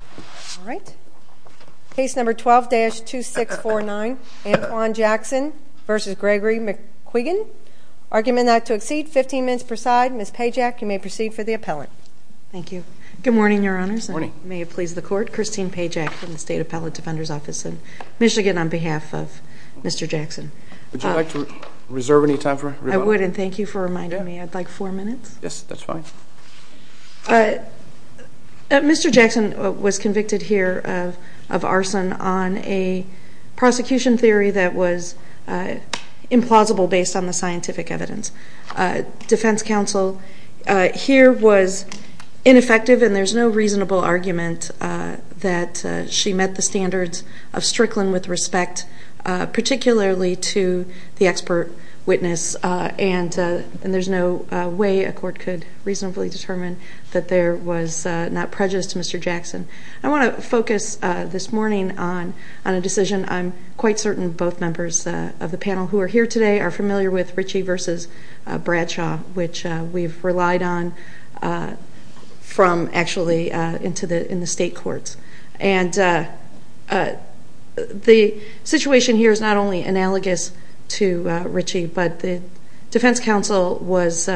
All right. Case number 12-2649, Antoine Jackson v. Gregory McQuiggin. Argument not to exceed 15 minutes per side. Ms. Pajak, you may proceed for the appellant. Thank you. Good morning, Your Honors. Good morning. May it please the Court. Christine Pajak from the State Appellate Defender's Office in Michigan on behalf of Mr. Jackson. Would you like to reserve any time for rebuttal? I would, and thank you for reminding me. I'd like four minutes. Yes, that's fine. Mr. Jackson was convicted here of arson on a prosecution theory that was implausible based on the scientific evidence. Defense counsel here was ineffective, and there's no reasonable argument that she met the standards of Strickland with respect, particularly to the expert witness, and there's no way a court could reasonably determine that there was not prejudice to Mr. Jackson. I want to focus this morning on a decision I'm quite certain both members of the panel who are here today are familiar with, Richie v. Bradshaw, which we've relied on from actually in the state courts. The situation here is not only analogous to Richie, but the defense counsel was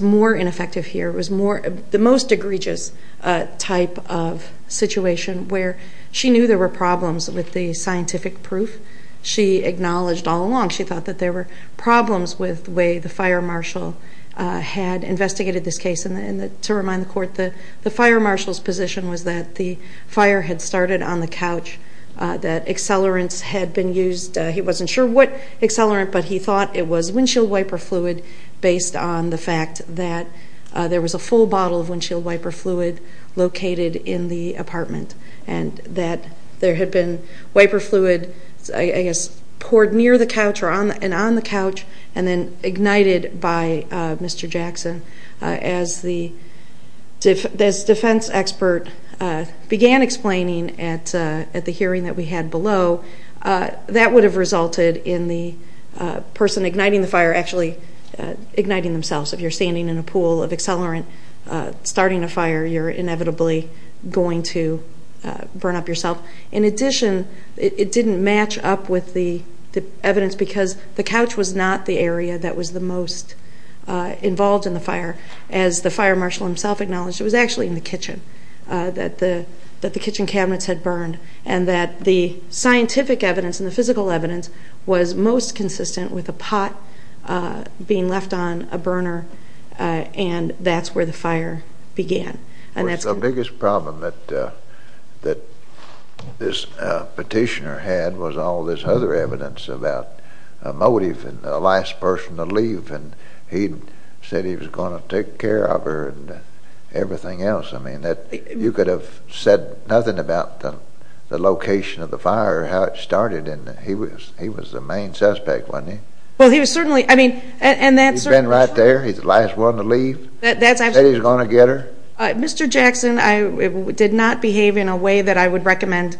more ineffective here. It was the most egregious type of situation where she knew there were problems with the scientific proof. She acknowledged all along she thought that there were problems with the way the fire marshal had investigated this case. To remind the court, the fire marshal's position was that the fire had started on the couch, that accelerants had been used. He wasn't sure what accelerant, but he thought it was windshield wiper fluid based on the fact that there was a full bottle of windshield wiper fluid located in the apartment and that there had been wiper fluid, I guess, poured near the couch and on the couch and then ignited by Mr. Jackson. As the defense expert began explaining at the hearing that we had below, that would have resulted in the person igniting the fire actually igniting themselves. If you're standing in a pool of accelerant starting a fire, you're inevitably going to burn up yourself. In addition, it didn't match up with the evidence because the couch was not the area that was the most involved in the fire. As the fire marshal himself acknowledged, it was actually in the kitchen that the kitchen cabinets had burned and that the scientific evidence and the physical evidence was most consistent with a pot being left on a burner and that's where the fire began. The biggest problem that this petitioner had was all this other evidence about a motive and the last person to leave and he said he was going to take care of her and everything else. I mean, you could have said nothing about the location of the fire or how it started and he was the main suspect, wasn't he? He's been right there? He's the last one to leave? He said he was going to get her? Mr. Jackson did not behave in a way that I would recommend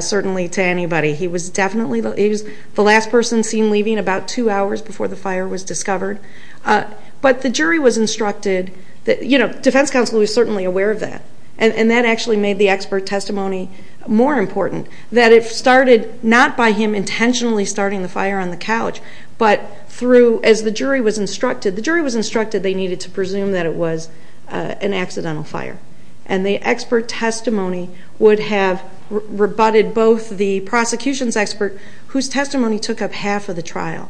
certainly to anybody. He was definitely the last person seen leaving about two hours before the fire was discovered. But the jury was instructed, you know, defense counsel was certainly aware of that and that actually made the expert testimony more important, that it started not by him intentionally starting the fire on the couch but through, as the jury was instructed, the jury was instructed they needed to presume that it was an accidental fire and the expert testimony would have rebutted both the prosecution's expert, whose testimony took up half of the trial,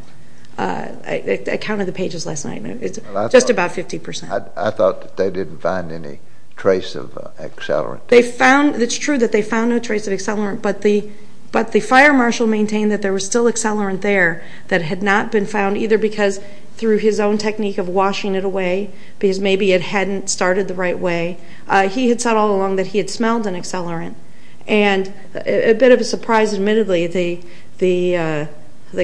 I counted the pages last night, just about 50%. I thought that they didn't find any trace of accelerant. It's true that they found no trace of accelerant but the fire marshal maintained that there was still accelerant there that had not been found either because through his own technique of washing it away, because maybe it hadn't started the right way, he had said all along that he had smelled an accelerant and a bit of a surprise, admittedly, the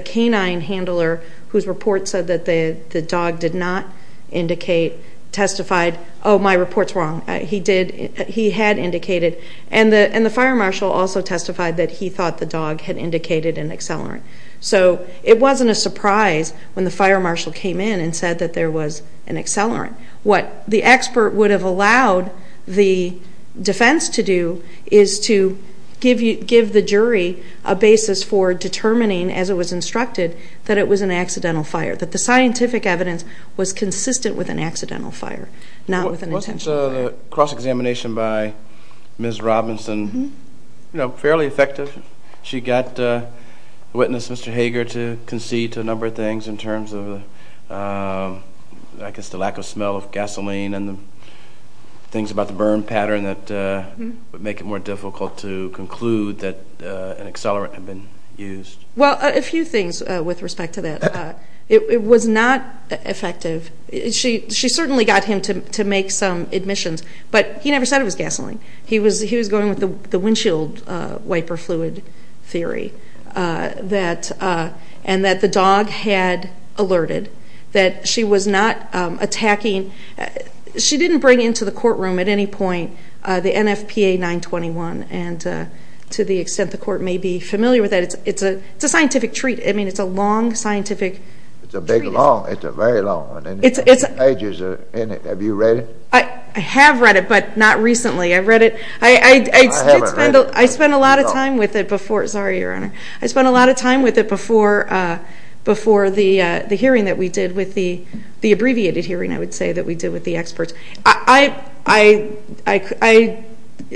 canine handler, whose report said that the dog did not indicate, testified, oh, my report's wrong, he did, he had indicated, and the fire marshal also testified that he thought the dog had indicated an accelerant. So it wasn't a surprise when the fire marshal came in and said that there was an accelerant. What the expert would have allowed the defense to do is to give the jury a basis for determining, as it was instructed, that it was an accidental fire, that the scientific evidence was consistent with an accidental fire, not with an intentional fire. Wasn't the cross-examination by Ms. Robinson fairly effective? She got witness Mr. Hager to concede to a number of things in terms of, I guess, the lack of smell of gasoline and the things about the burn pattern that would make it more difficult to conclude that an accelerant had been used. Well, a few things with respect to that. It was not effective. She certainly got him to make some admissions, but he never said it was gasoline. He was going with the windshield wiper fluid theory and that the dog had alerted, that she was not attacking. She didn't bring into the courtroom at any point the NFPA 921, and to the extent the court may be familiar with that, it's a scientific treat. I mean, it's a long scientific treat. It's a big long. It's a very long one. Ages in it. Have you read it? I have read it, but not recently. I read it. I haven't read it. I spent a lot of time with it before. Sorry, Your Honor. I spent a lot of time with it before the hearing that we did with the, the abbreviated hearing, I would say, that we did with the experts.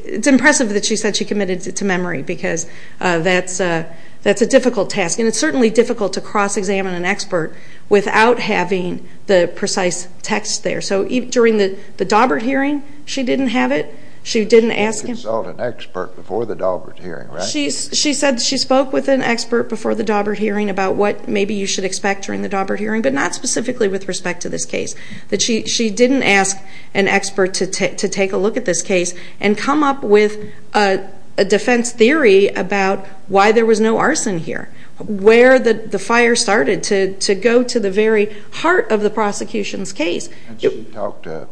It's impressive that she said she committed to memory because that's a difficult task, and it's certainly difficult to cross-examine an expert without having the precise text there. So during the Daubert hearing, she didn't have it. She didn't ask him. She didn't consult an expert before the Daubert hearing, right? She said she spoke with an expert before the Daubert hearing about what maybe you should expect during the Daubert hearing, but not specifically with respect to this case. She didn't ask an expert to take a look at this case and come up with a defense theory about why there was no arson here, where the fire started, to go to the very heart of the prosecution's case. She talked to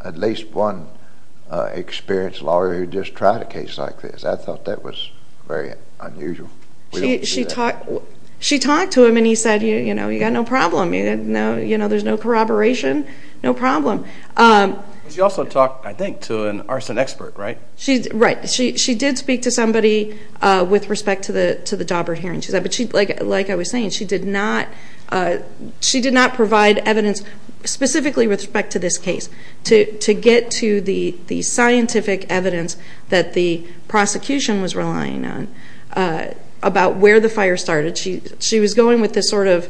at least one experienced lawyer who just tried a case like this. I thought that was very unusual. She talked to him, and he said, you know, you've got no problem. There's no corroboration. No problem. She also talked, I think, to an arson expert, right? Right. She did speak to somebody with respect to the Daubert hearing. But like I was saying, she did not provide evidence specifically with respect to this case to get to the scientific evidence that the prosecution was relying on about where the fire started. She was going with this sort of,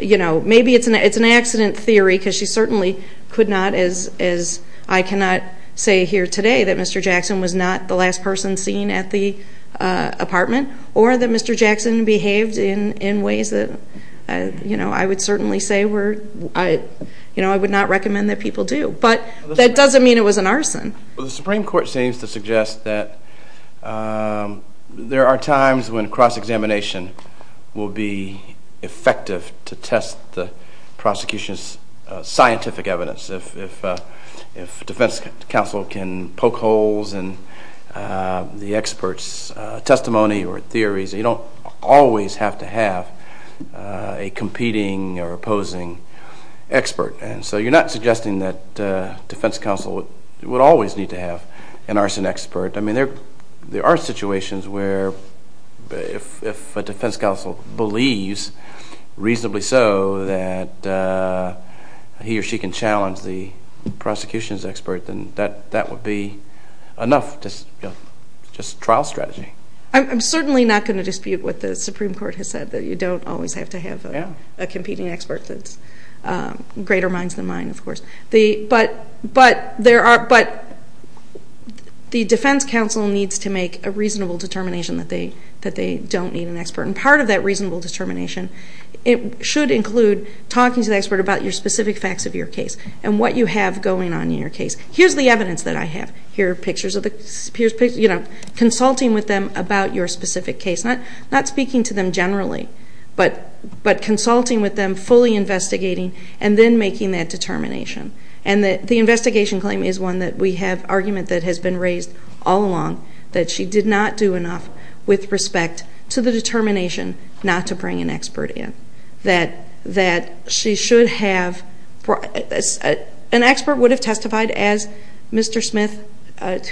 you know, maybe it's an accident theory because she certainly could not, as I cannot say here today that Mr. Jackson was not the last person seen at the apartment or that Mr. Jackson behaved in ways that, you know, I would certainly say I would not recommend that people do. But that doesn't mean it was an arson. The Supreme Court seems to suggest that there are times when cross-examination will be effective to test the prosecution's scientific evidence. If defense counsel can poke holes in the expert's testimony or theories, you don't always have to have a competing or opposing expert. And so you're not suggesting that defense counsel would always need to have an arson expert. I mean, there are situations where if a defense counsel believes, reasonably so, that he or she can challenge the prosecution's expert, then that would be enough just trial strategy. I'm certainly not going to dispute what the Supreme Court has said, that you don't always have to have a competing expert that's greater minds than mine, of course. But the defense counsel needs to make a reasonable determination that they don't need an expert. And part of that reasonable determination should include talking to the expert about your specific facts of your case and what you have going on in your case. Here's the evidence that I have. Consulting with them about your specific case. Not speaking to them generally, but consulting with them, fully investigating, and then making that determination. And the investigation claim is one that we have argument that has been raised all along, that she did not do enough with respect to the determination not to bring an expert in. An expert would have testified, as Mr. Smith,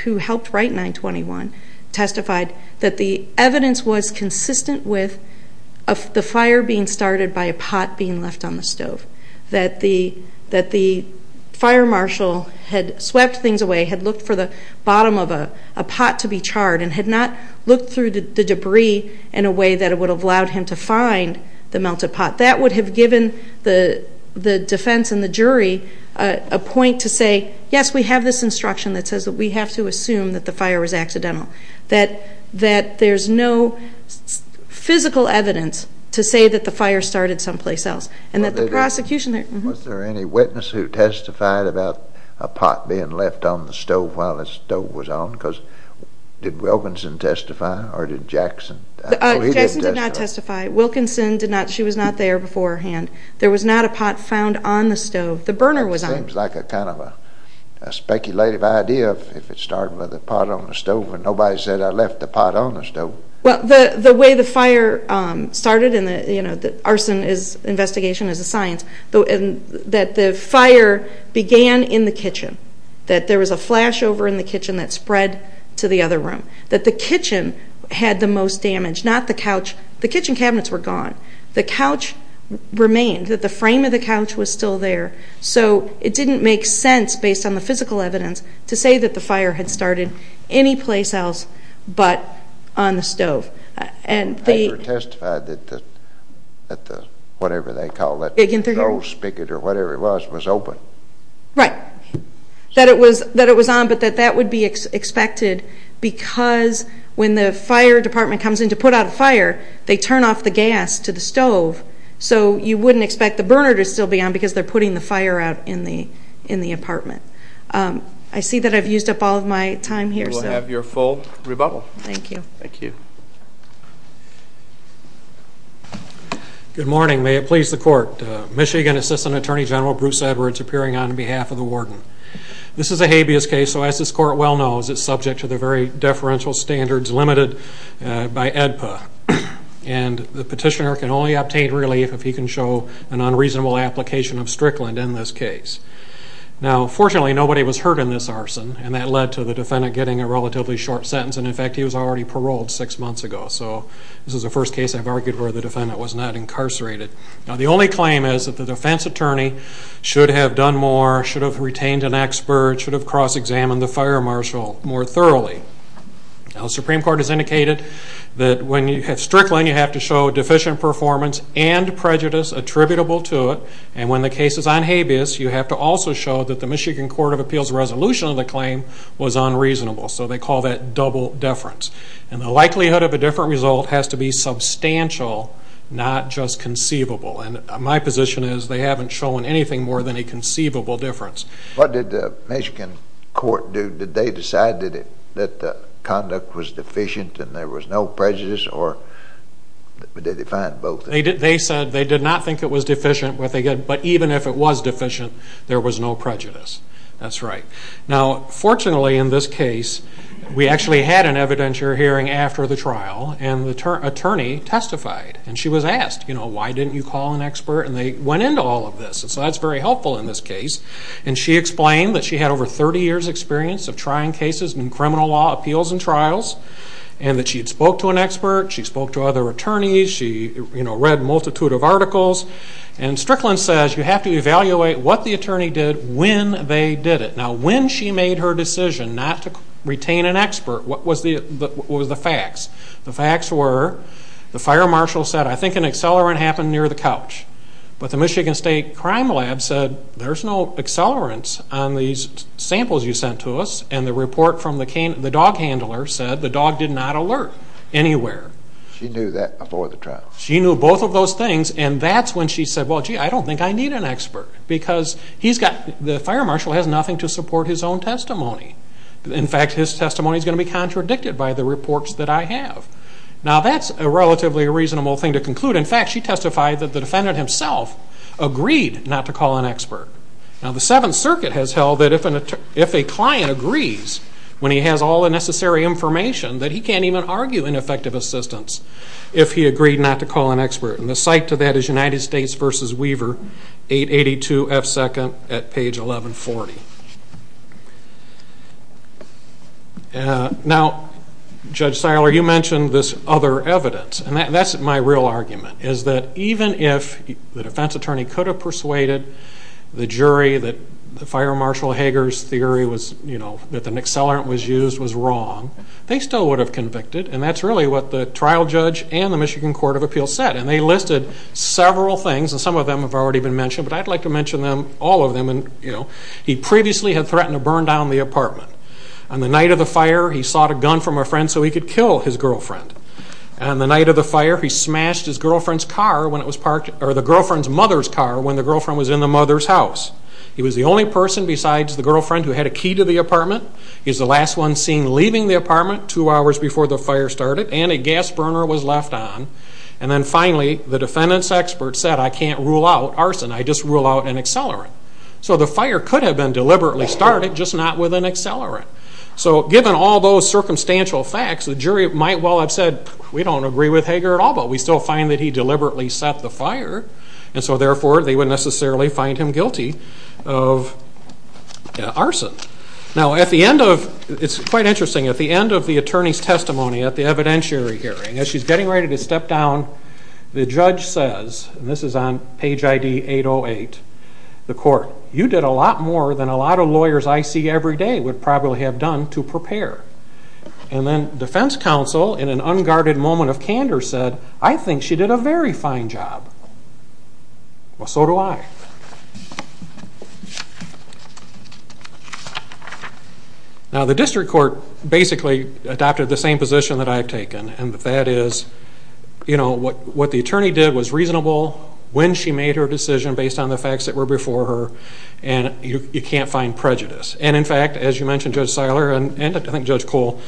who helped write 921, testified that the evidence was consistent with the fire being started by a pot being left on the stove. That the fire marshal had swept things away, had looked for the bottom of a pot to be charred, and had not looked through the debris in a way that would have allowed him to find the melted pot. That would have given the defense and the jury a point to say, yes, we have this instruction that says that we have to assume that the fire was accidental. That there's no physical evidence to say that the fire started someplace else. And that the prosecution... Was there any witness who testified about a pot being left on the stove while the stove was on? Because did Wilkinson testify or did Jackson? Jackson did not testify. Wilkinson did not. She was not there beforehand. There was not a pot found on the stove. The burner was on. It seems like a kind of a speculative idea if it started with a pot on the stove and nobody said, I left the pot on the stove. Well, the way the fire started, and the arson investigation is a science, that the fire began in the kitchen. That there was a flashover in the kitchen that spread to the other room. That the kitchen had the most damage, not the couch. The kitchen cabinets were gone. The couch remained. The frame of the couch was still there. So it didn't make sense, based on the physical evidence, to say that the fire had started anyplace else but on the stove. And they... They never testified that the, whatever they called it, the gold spigot or whatever it was was open. Right. That it was on, but that that would be expected because when the fire department comes in to put out a fire, they turn off the gas to the stove. So you wouldn't expect the burner to still be on because they're putting the fire out in the apartment. I see that I've used up all of my time here. We'll have your full rebuttal. Thank you. Thank you. Good morning. May it please the Court. Michigan Assistant Attorney General Bruce Edwards appearing on behalf of the warden. This is a habeas case, so as this Court well knows, it's subject to the very deferential standards limited by AEDPA. And the petitioner can only obtain relief if he can show an unreasonable application of Strickland in this case. Now, fortunately, nobody was hurt in this arson, and that led to the defendant getting a relatively short sentence, and, in fact, he was already paroled six months ago. So this is the first case I've argued where the defendant was not incarcerated. Now, the only claim is that the defense attorney should have done more, should have retained an expert, should have cross-examined the fire marshal more thoroughly. Now, the Supreme Court has indicated that when you have Strickland, you have to show deficient performance and prejudice attributable to it, and when the case is on habeas, you have to also show that the Michigan Court of Appeals resolution of the claim was unreasonable. So they call that double deference. And the likelihood of a different result has to be substantial, not just conceivable. And my position is they haven't shown anything more than a conceivable difference. What did the Michigan court do? Did they decide that conduct was deficient and there was no prejudice, or did they define both? They said they did not think it was deficient, but even if it was deficient, there was no prejudice. That's right. Now, fortunately, in this case, we actually had an evidentiary hearing after the trial, and the attorney testified. And she was asked, you know, why didn't you call an expert? And they went into all of this. So that's very helpful in this case. And she explained that she had over 30 years' experience of trying cases in criminal law appeals and trials, and that she had spoke to an expert, she spoke to other attorneys, she read a multitude of articles. And Strickland says you have to evaluate what the attorney did when they did it. Now, when she made her decision not to retain an expert, what was the facts? The facts were the fire marshal said, I think an accelerant happened near the couch. But the Michigan State Crime Lab said, There's no accelerants on these samples you sent to us. And the report from the dog handler said the dog did not alert anywhere. She knew that aboard the trial. She knew both of those things, and that's when she said, Well, gee, I don't think I need an expert. Because the fire marshal has nothing to support his own testimony. In fact, his testimony is going to be contradicted by the reports that I have. Now, that's a relatively reasonable thing to conclude. In fact, she testified that the defendant himself agreed not to call an expert. Now, the Seventh Circuit has held that if a client agrees, when he has all the necessary information, that he can't even argue ineffective assistance if he agreed not to call an expert. And the cite to that is United States v. Weaver, 882 F. 2nd at page 1140. Now, Judge Seiler, you mentioned this other evidence. And that's my real argument, is that even if the defense attorney could have persuaded the jury that the fire marshal Hager's theory that an accelerant was used was wrong, they still would have convicted. And that's really what the trial judge and the Michigan Court of Appeals said. And they listed several things, and some of them have already been mentioned, but I'd like to mention all of them. He previously had threatened to burn down the apartment. On the night of the fire, he sought a gun from a friend so he could kill his girlfriend. On the night of the fire, he smashed his girlfriend's car when it was parked, or the girlfriend's mother's car, when the girlfriend was in the mother's house. He was the only person besides the girlfriend who had a key to the apartment. He was the last one seen leaving the apartment two hours before the fire started. And a gas burner was left on. And then finally, the defendant's expert said, I can't rule out arson, I just rule out an accelerant. So the fire could have been deliberately started, just not with an accelerant. So given all those circumstantial facts, the jury might well have said, we don't agree with Hager at all, but we still find that he deliberately set the fire, and so therefore they wouldn't necessarily find him guilty of arson. Now at the end of, it's quite interesting, at the end of the attorney's testimony at the evidentiary hearing, as she's getting ready to step down, the judge says, and this is on page ID 808, the court, you did a lot more than a lot of lawyers I see every day would probably have done to prepare. And then defense counsel, in an unguarded moment of candor, said, I think she did a very fine job. Well, so do I. Now the district court basically adopted the same position that I've taken, and that is, you know, what the attorney did was reasonable, when she made her decision based on the facts that were before her, and you can't find prejudice. And in fact, as you mentioned, Judge Seiler, and I think Judge Cole,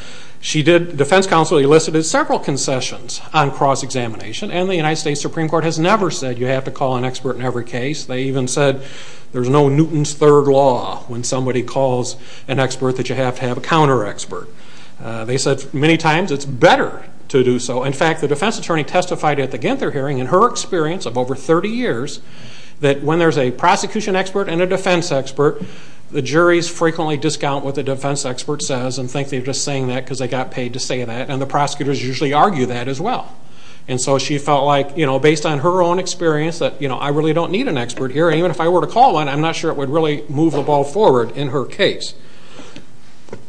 she did, defense counsel elicited several concessions on cross-examination, and the United States Supreme Court has never said you have to call an expert in every case. They even said there's no Newton's Third Law when somebody calls an expert that you have to have a counter-expert. They said many times it's better to do so. In fact, the defense attorney testified at the Ginther hearing, in her experience of over 30 years, that when there's a prosecution expert and a defense expert, the juries frequently discount what the defense expert says and think they're just saying that because they got paid to say that, and the prosecutors usually argue that as well. And so she felt like, you know, based on her own experience, that, you know, I really don't need an expert here. Even if I were to call one, I'm not sure it would really move the ball forward in her case.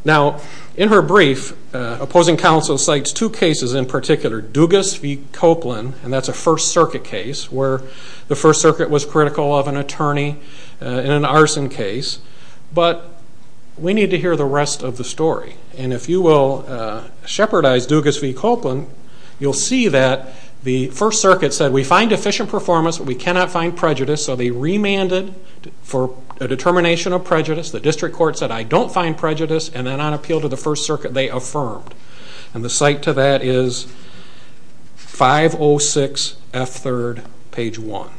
Now, in her brief, opposing counsel cites two cases in particular, Dugas v. Copeland, and that's a First Circuit case, where the First Circuit was critical of an attorney in an arson case. But we need to hear the rest of the story. And if you will shepherdize Dugas v. Copeland, you'll see that the First Circuit said we find efficient performance, but we cannot find prejudice, so they remanded for a determination of prejudice. The district court said, I don't find prejudice, and then on appeal to the First Circuit, they affirmed. And the cite to that is 506F3rd, page 1.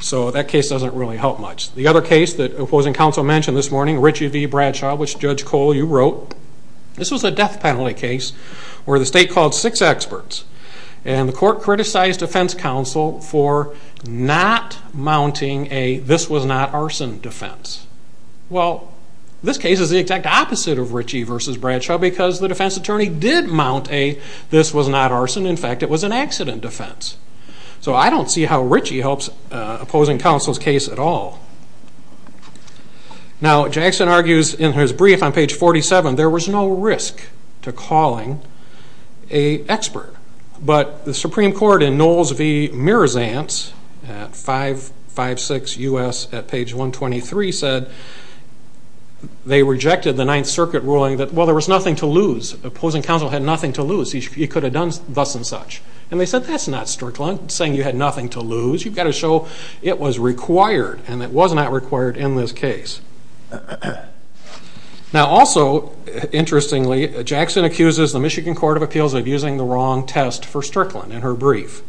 So that case doesn't really help much. The other case that opposing counsel mentioned this morning, Ritchie v. Bradshaw, which, Judge Cole, you wrote, this was a death penalty case where the state called six experts, and the court criticized defense counsel for not mounting a this was not arson defense. Well, this case is the exact opposite of Ritchie v. Bradshaw because the defense attorney did mount a this was not arson. In fact, it was an accident defense. So I don't see how Ritchie helps opposing counsel's case at all. Now, Jackson argues in his brief on page 47, there was no risk to calling an expert. But the Supreme Court in Knowles v. Mirzant at 556 U.S. at page 123 said they rejected the Ninth Circuit ruling that, well, there was nothing to lose. Opposing counsel had nothing to lose. He could have done thus and such. And they said, that's not strict law. I'm not saying you had nothing to lose. You've got to show it was required, and it was not required in this case. Now, also, interestingly, Jackson accuses the Michigan Court of Appeals of using the wrong test for Strickland in her brief.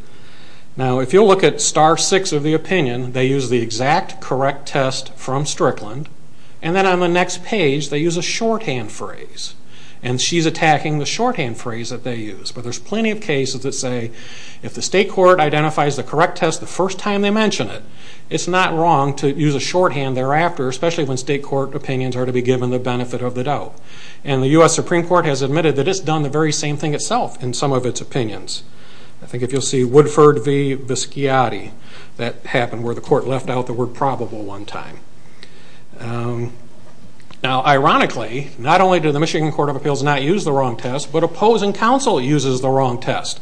Now, if you'll look at star 6 of the opinion, they use the exact correct test from Strickland. And then on the next page, they use a shorthand phrase. And she's attacking the shorthand phrase that they use. But there's plenty of cases that say, if the state court identifies the correct test the first time they mention it, it's not wrong to use a shorthand thereafter, especially when state court opinions are to be given the benefit of the doubt. And the U.S. Supreme Court has admitted that it's done the very same thing itself in some of its opinions. I think if you'll see Woodford v. Bisciotti, that happened where the court left out the word probable one time. Now, ironically, not only do the Michigan Court of Appeals not use the wrong test, but opposing counsel uses the wrong test.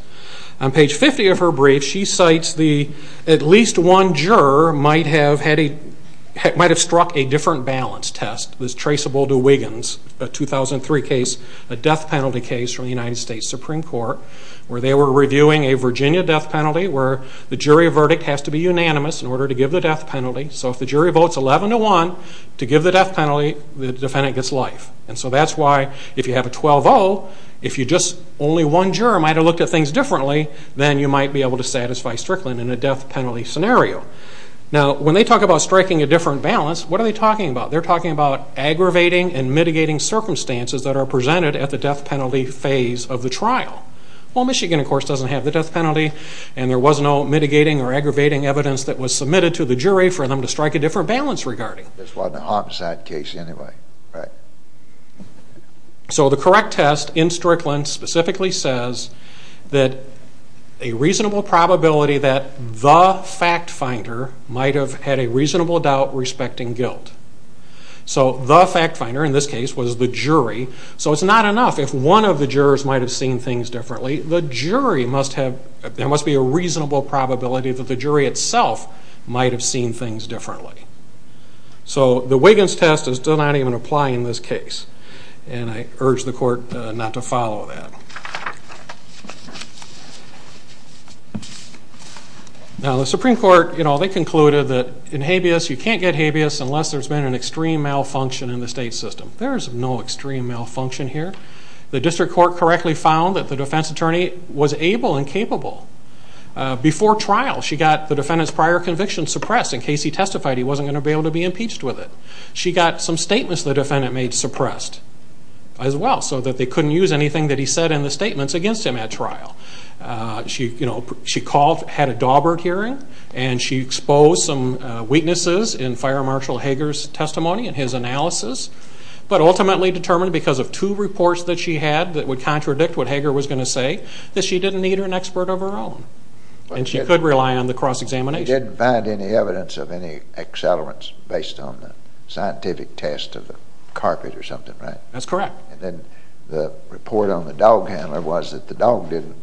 On page 50 of her brief, she cites the, at least one juror might have struck a different balance test that's traceable to Wiggins, a 2003 case, a death penalty case from the United States Supreme Court, where they were reviewing a Virginia death penalty where the jury verdict has to be unanimous in order to give the death penalty. So if the jury votes 11-1 to give the death penalty, the defendant gets life. And so that's why if you have a 12-0, if only one juror might have looked at things differently, then you might be able to satisfy Strickland in a death penalty scenario. Now, when they talk about striking a different balance, what are they talking about? They're talking about aggravating and mitigating circumstances that are presented at the death penalty phase of the trial. Well, Michigan, of course, doesn't have the death penalty, and there was no mitigating or aggravating evidence that was submitted to the jury for them to strike a different balance regarding. This wasn't a homicide case anyway, right? So the correct test in Strickland specifically says that a reasonable probability that the fact finder might have had a reasonable doubt respecting guilt. So the fact finder in this case was the jury. So it's not enough if one of the jurors might have seen things differently. There must be a reasonable probability that the jury itself might have seen things differently. So the Wiggins test does not even apply in this case, and I urge the court not to follow that. Now, the Supreme Court, you know, they concluded that in habeas, you can't get habeas unless there's been an extreme malfunction in the state system. There is no extreme malfunction here. The district court correctly found that the defense attorney was able and capable. Before trial, she got the defendant's prior conviction suppressed in case he testified he wasn't going to be able to be impeached with it. She got some statements the defendant made suppressed as well so that they couldn't use anything that he said in his defense. And the statements against him at trial. She called, had a Dawbert hearing, and she exposed some weaknesses in Fire Marshal Hager's testimony and his analysis, but ultimately determined because of two reports that she had that would contradict what Hager was going to say, that she didn't need an expert of her own. And she could rely on the cross-examination. You didn't find any evidence of any accelerants based on the scientific test of the carpet or something, right? That's correct. And then the report on the dog handler was that the dog didn't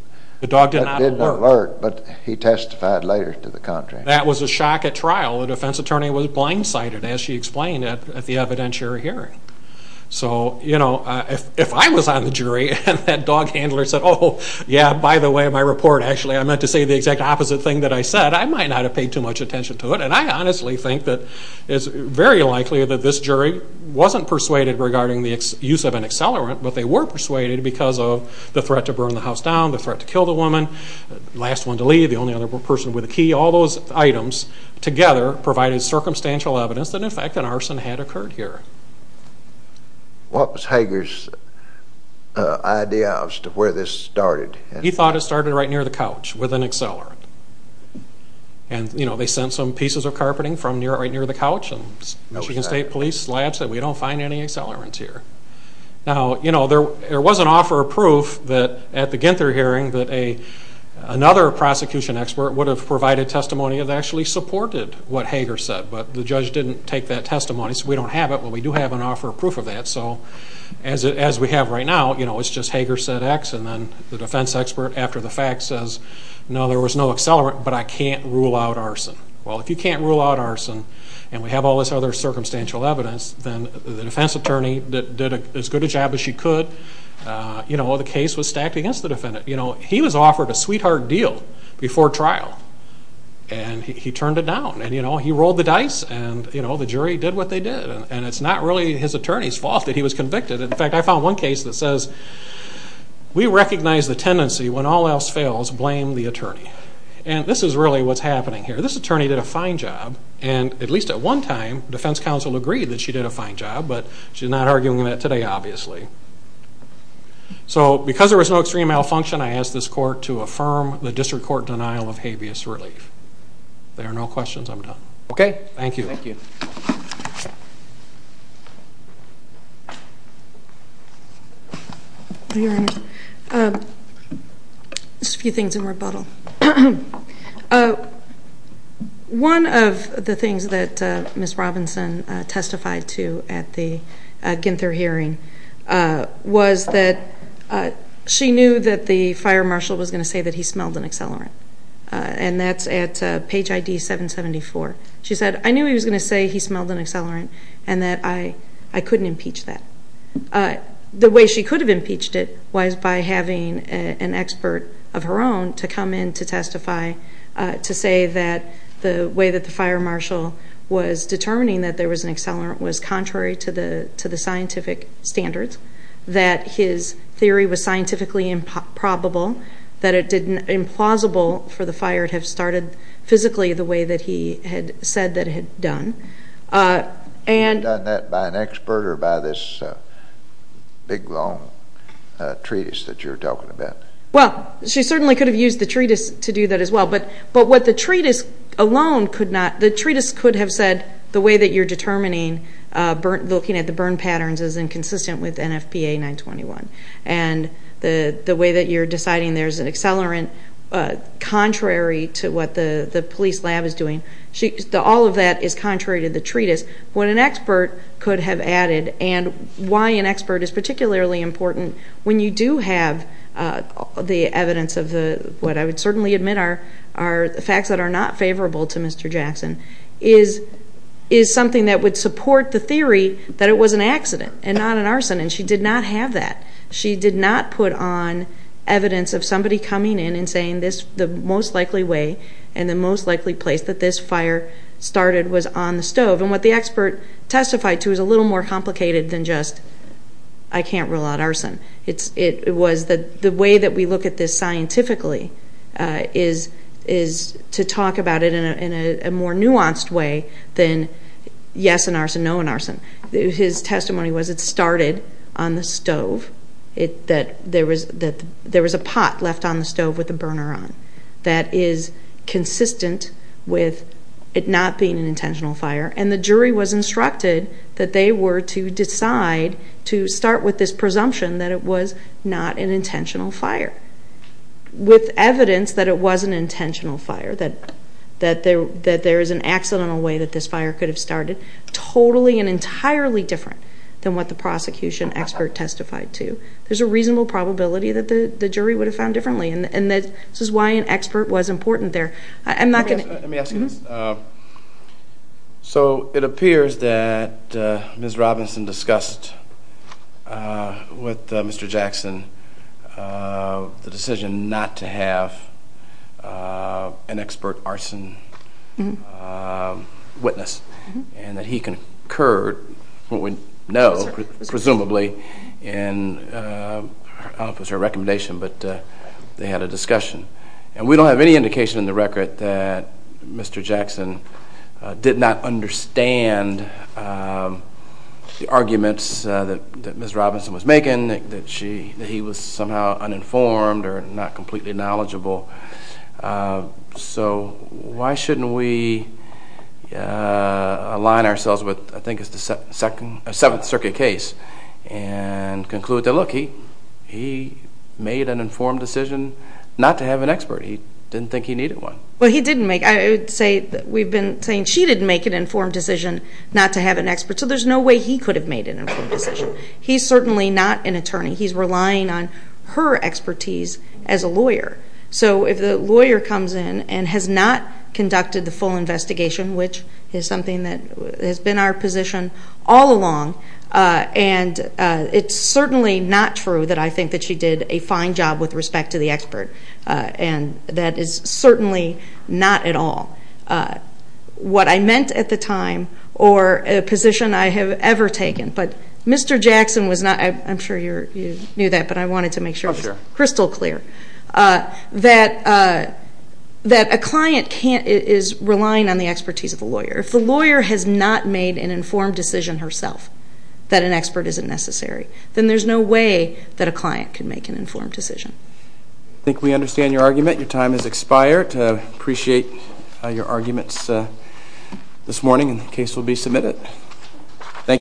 alert, but he testified later to the contract. That was a shock at trial. The defense attorney was blindsided, as she explained, at the evidentiary hearing. So, you know, if I was on the jury and that dog handler said, oh, yeah, by the way, my report actually, I meant to say the exact opposite thing that I said, I might not have paid too much attention to it. And I honestly think that it's very likely that this jury wasn't persuaded regarding the use of an accelerant, but they were persuaded because of the threat to burn the house down, the threat to kill the woman, the last one to leave, the only other person with a key. All those items together provided circumstantial evidence that in fact an arson had occurred here. What was Hager's idea as to where this started? He thought it started right near the couch with an accelerant. Michigan State Police said we don't find any accelerants here. Now, you know, there was an offer of proof at the Ginther hearing that another prosecution expert would have provided testimony that actually supported what Hager said, but the judge didn't take that testimony, so we don't have it. But we do have an offer of proof of that. So as we have right now, you know, it's just Hager said X, and then the defense expert after the fact says, no, there was no accelerant, but I can't rule out arson. Well, if you can't rule out arson, and we have all this other circumstantial evidence, then the defense attorney did as good a job as she could. You know, the case was stacked against the defendant. You know, he was offered a sweetheart deal before trial, and he turned it down, and, you know, he rolled the dice, and, you know, the jury did what they did, and it's not really his attorney's fault that he was convicted. In fact, I found one case that says, we recognize the tendency when all else fails, blame the attorney. And this is really what's happening here. This attorney did a fine job, and at least at one time, defense counsel agreed that she did a fine job, but she's not arguing that today, obviously. So because there was no extreme malfunction, I ask this court to affirm the district court denial of habeas relief. If there are no questions, I'm done. Okay? Thank you. Thank you. Your Honor, just a few things in rebuttal. One of the things that Ms. Robinson testified to at the Ginther hearing was that she knew that the fire marshal was going to say that he smelled an accelerant, and that's at page ID 774. She said, I knew he was going to say he smelled an accelerant, and that I couldn't impeach that. The way she could have impeached it was by having an expert of her own to come in to testify to say that the way that the fire marshal was determining that there was an accelerant was contrary to the scientific standards, that his theory was scientifically improbable, that it didn't implausible for the fire to have started physically the way that he had said that it had done. Had she done that by an expert or by this big, long treatise that you're talking about? Well, she certainly could have used the treatise to do that as well, but what the treatise alone could not, the treatise could have said the way that you're determining, looking at the burn patterns is inconsistent with NFPA 921, and the way that you're deciding there's an accelerant contrary to what the police lab is doing, all of that is contrary to the treatise. What an expert could have added and why an expert is particularly important when you do have the evidence of what I would certainly admit are facts that are not favorable to Mr. Jackson is something that would support the theory that it was an accident and not an arson, and she did not have that. She did not put on evidence of somebody coming in and saying the most likely way and the most likely place that this fire started was on the stove, and what the expert testified to is a little more complicated than just, I can't rule out arson. It was the way that we look at this scientifically is to talk about it in a more nuanced way than yes, an arson, no, an arson. His testimony was it started on the stove, that there was a pot left on the stove with a burner on that is consistent with it not being an intentional fire, and the jury was instructed that they were to decide to start with this presumption that it was not an intentional fire. With evidence that it was an intentional fire, that there is an accidental way that this fire could have started, totally and entirely different than what the prosecution expert testified to. There's a reasonable probability that the jury would have found differently, and this is why an expert was important there. Let me ask you this. So it appears that Ms. Robinson discussed with Mr. Jackson the decision not to have an expert arson witness, and that he concurred what we know, presumably, in her recommendation, but they had a discussion. And we don't have any indication in the record that Mr. Jackson did not understand the arguments that Ms. Robinson was making, that he was somehow uninformed or not completely knowledgeable. So why shouldn't we align ourselves with, I think it's the Seventh Circuit case, and conclude that, look, he made an informed decision not to have an expert. He didn't think he needed one. Well, he didn't make it. I would say that we've been saying she didn't make an informed decision not to have an expert, so there's no way he could have made an informed decision. He's certainly not an attorney. He's relying on her expertise as a lawyer. So if the lawyer comes in and has not conducted the full investigation, which is something that has been our position all along, and it's certainly not true that I think that she did a fine job with respect to the expert, and that is certainly not at all what I meant at the time or a position I have ever taken. But Mr. Jackson was not, I'm sure you knew that, but I wanted to make sure it was crystal clear, that a client is relying on the expertise of a lawyer. If the lawyer has not made an informed decision herself that an expert isn't necessary, then there's no way that a client can make an informed decision. I think we understand your argument. Your time has expired. I appreciate your arguments this morning, and the case will be submitted. Thank you.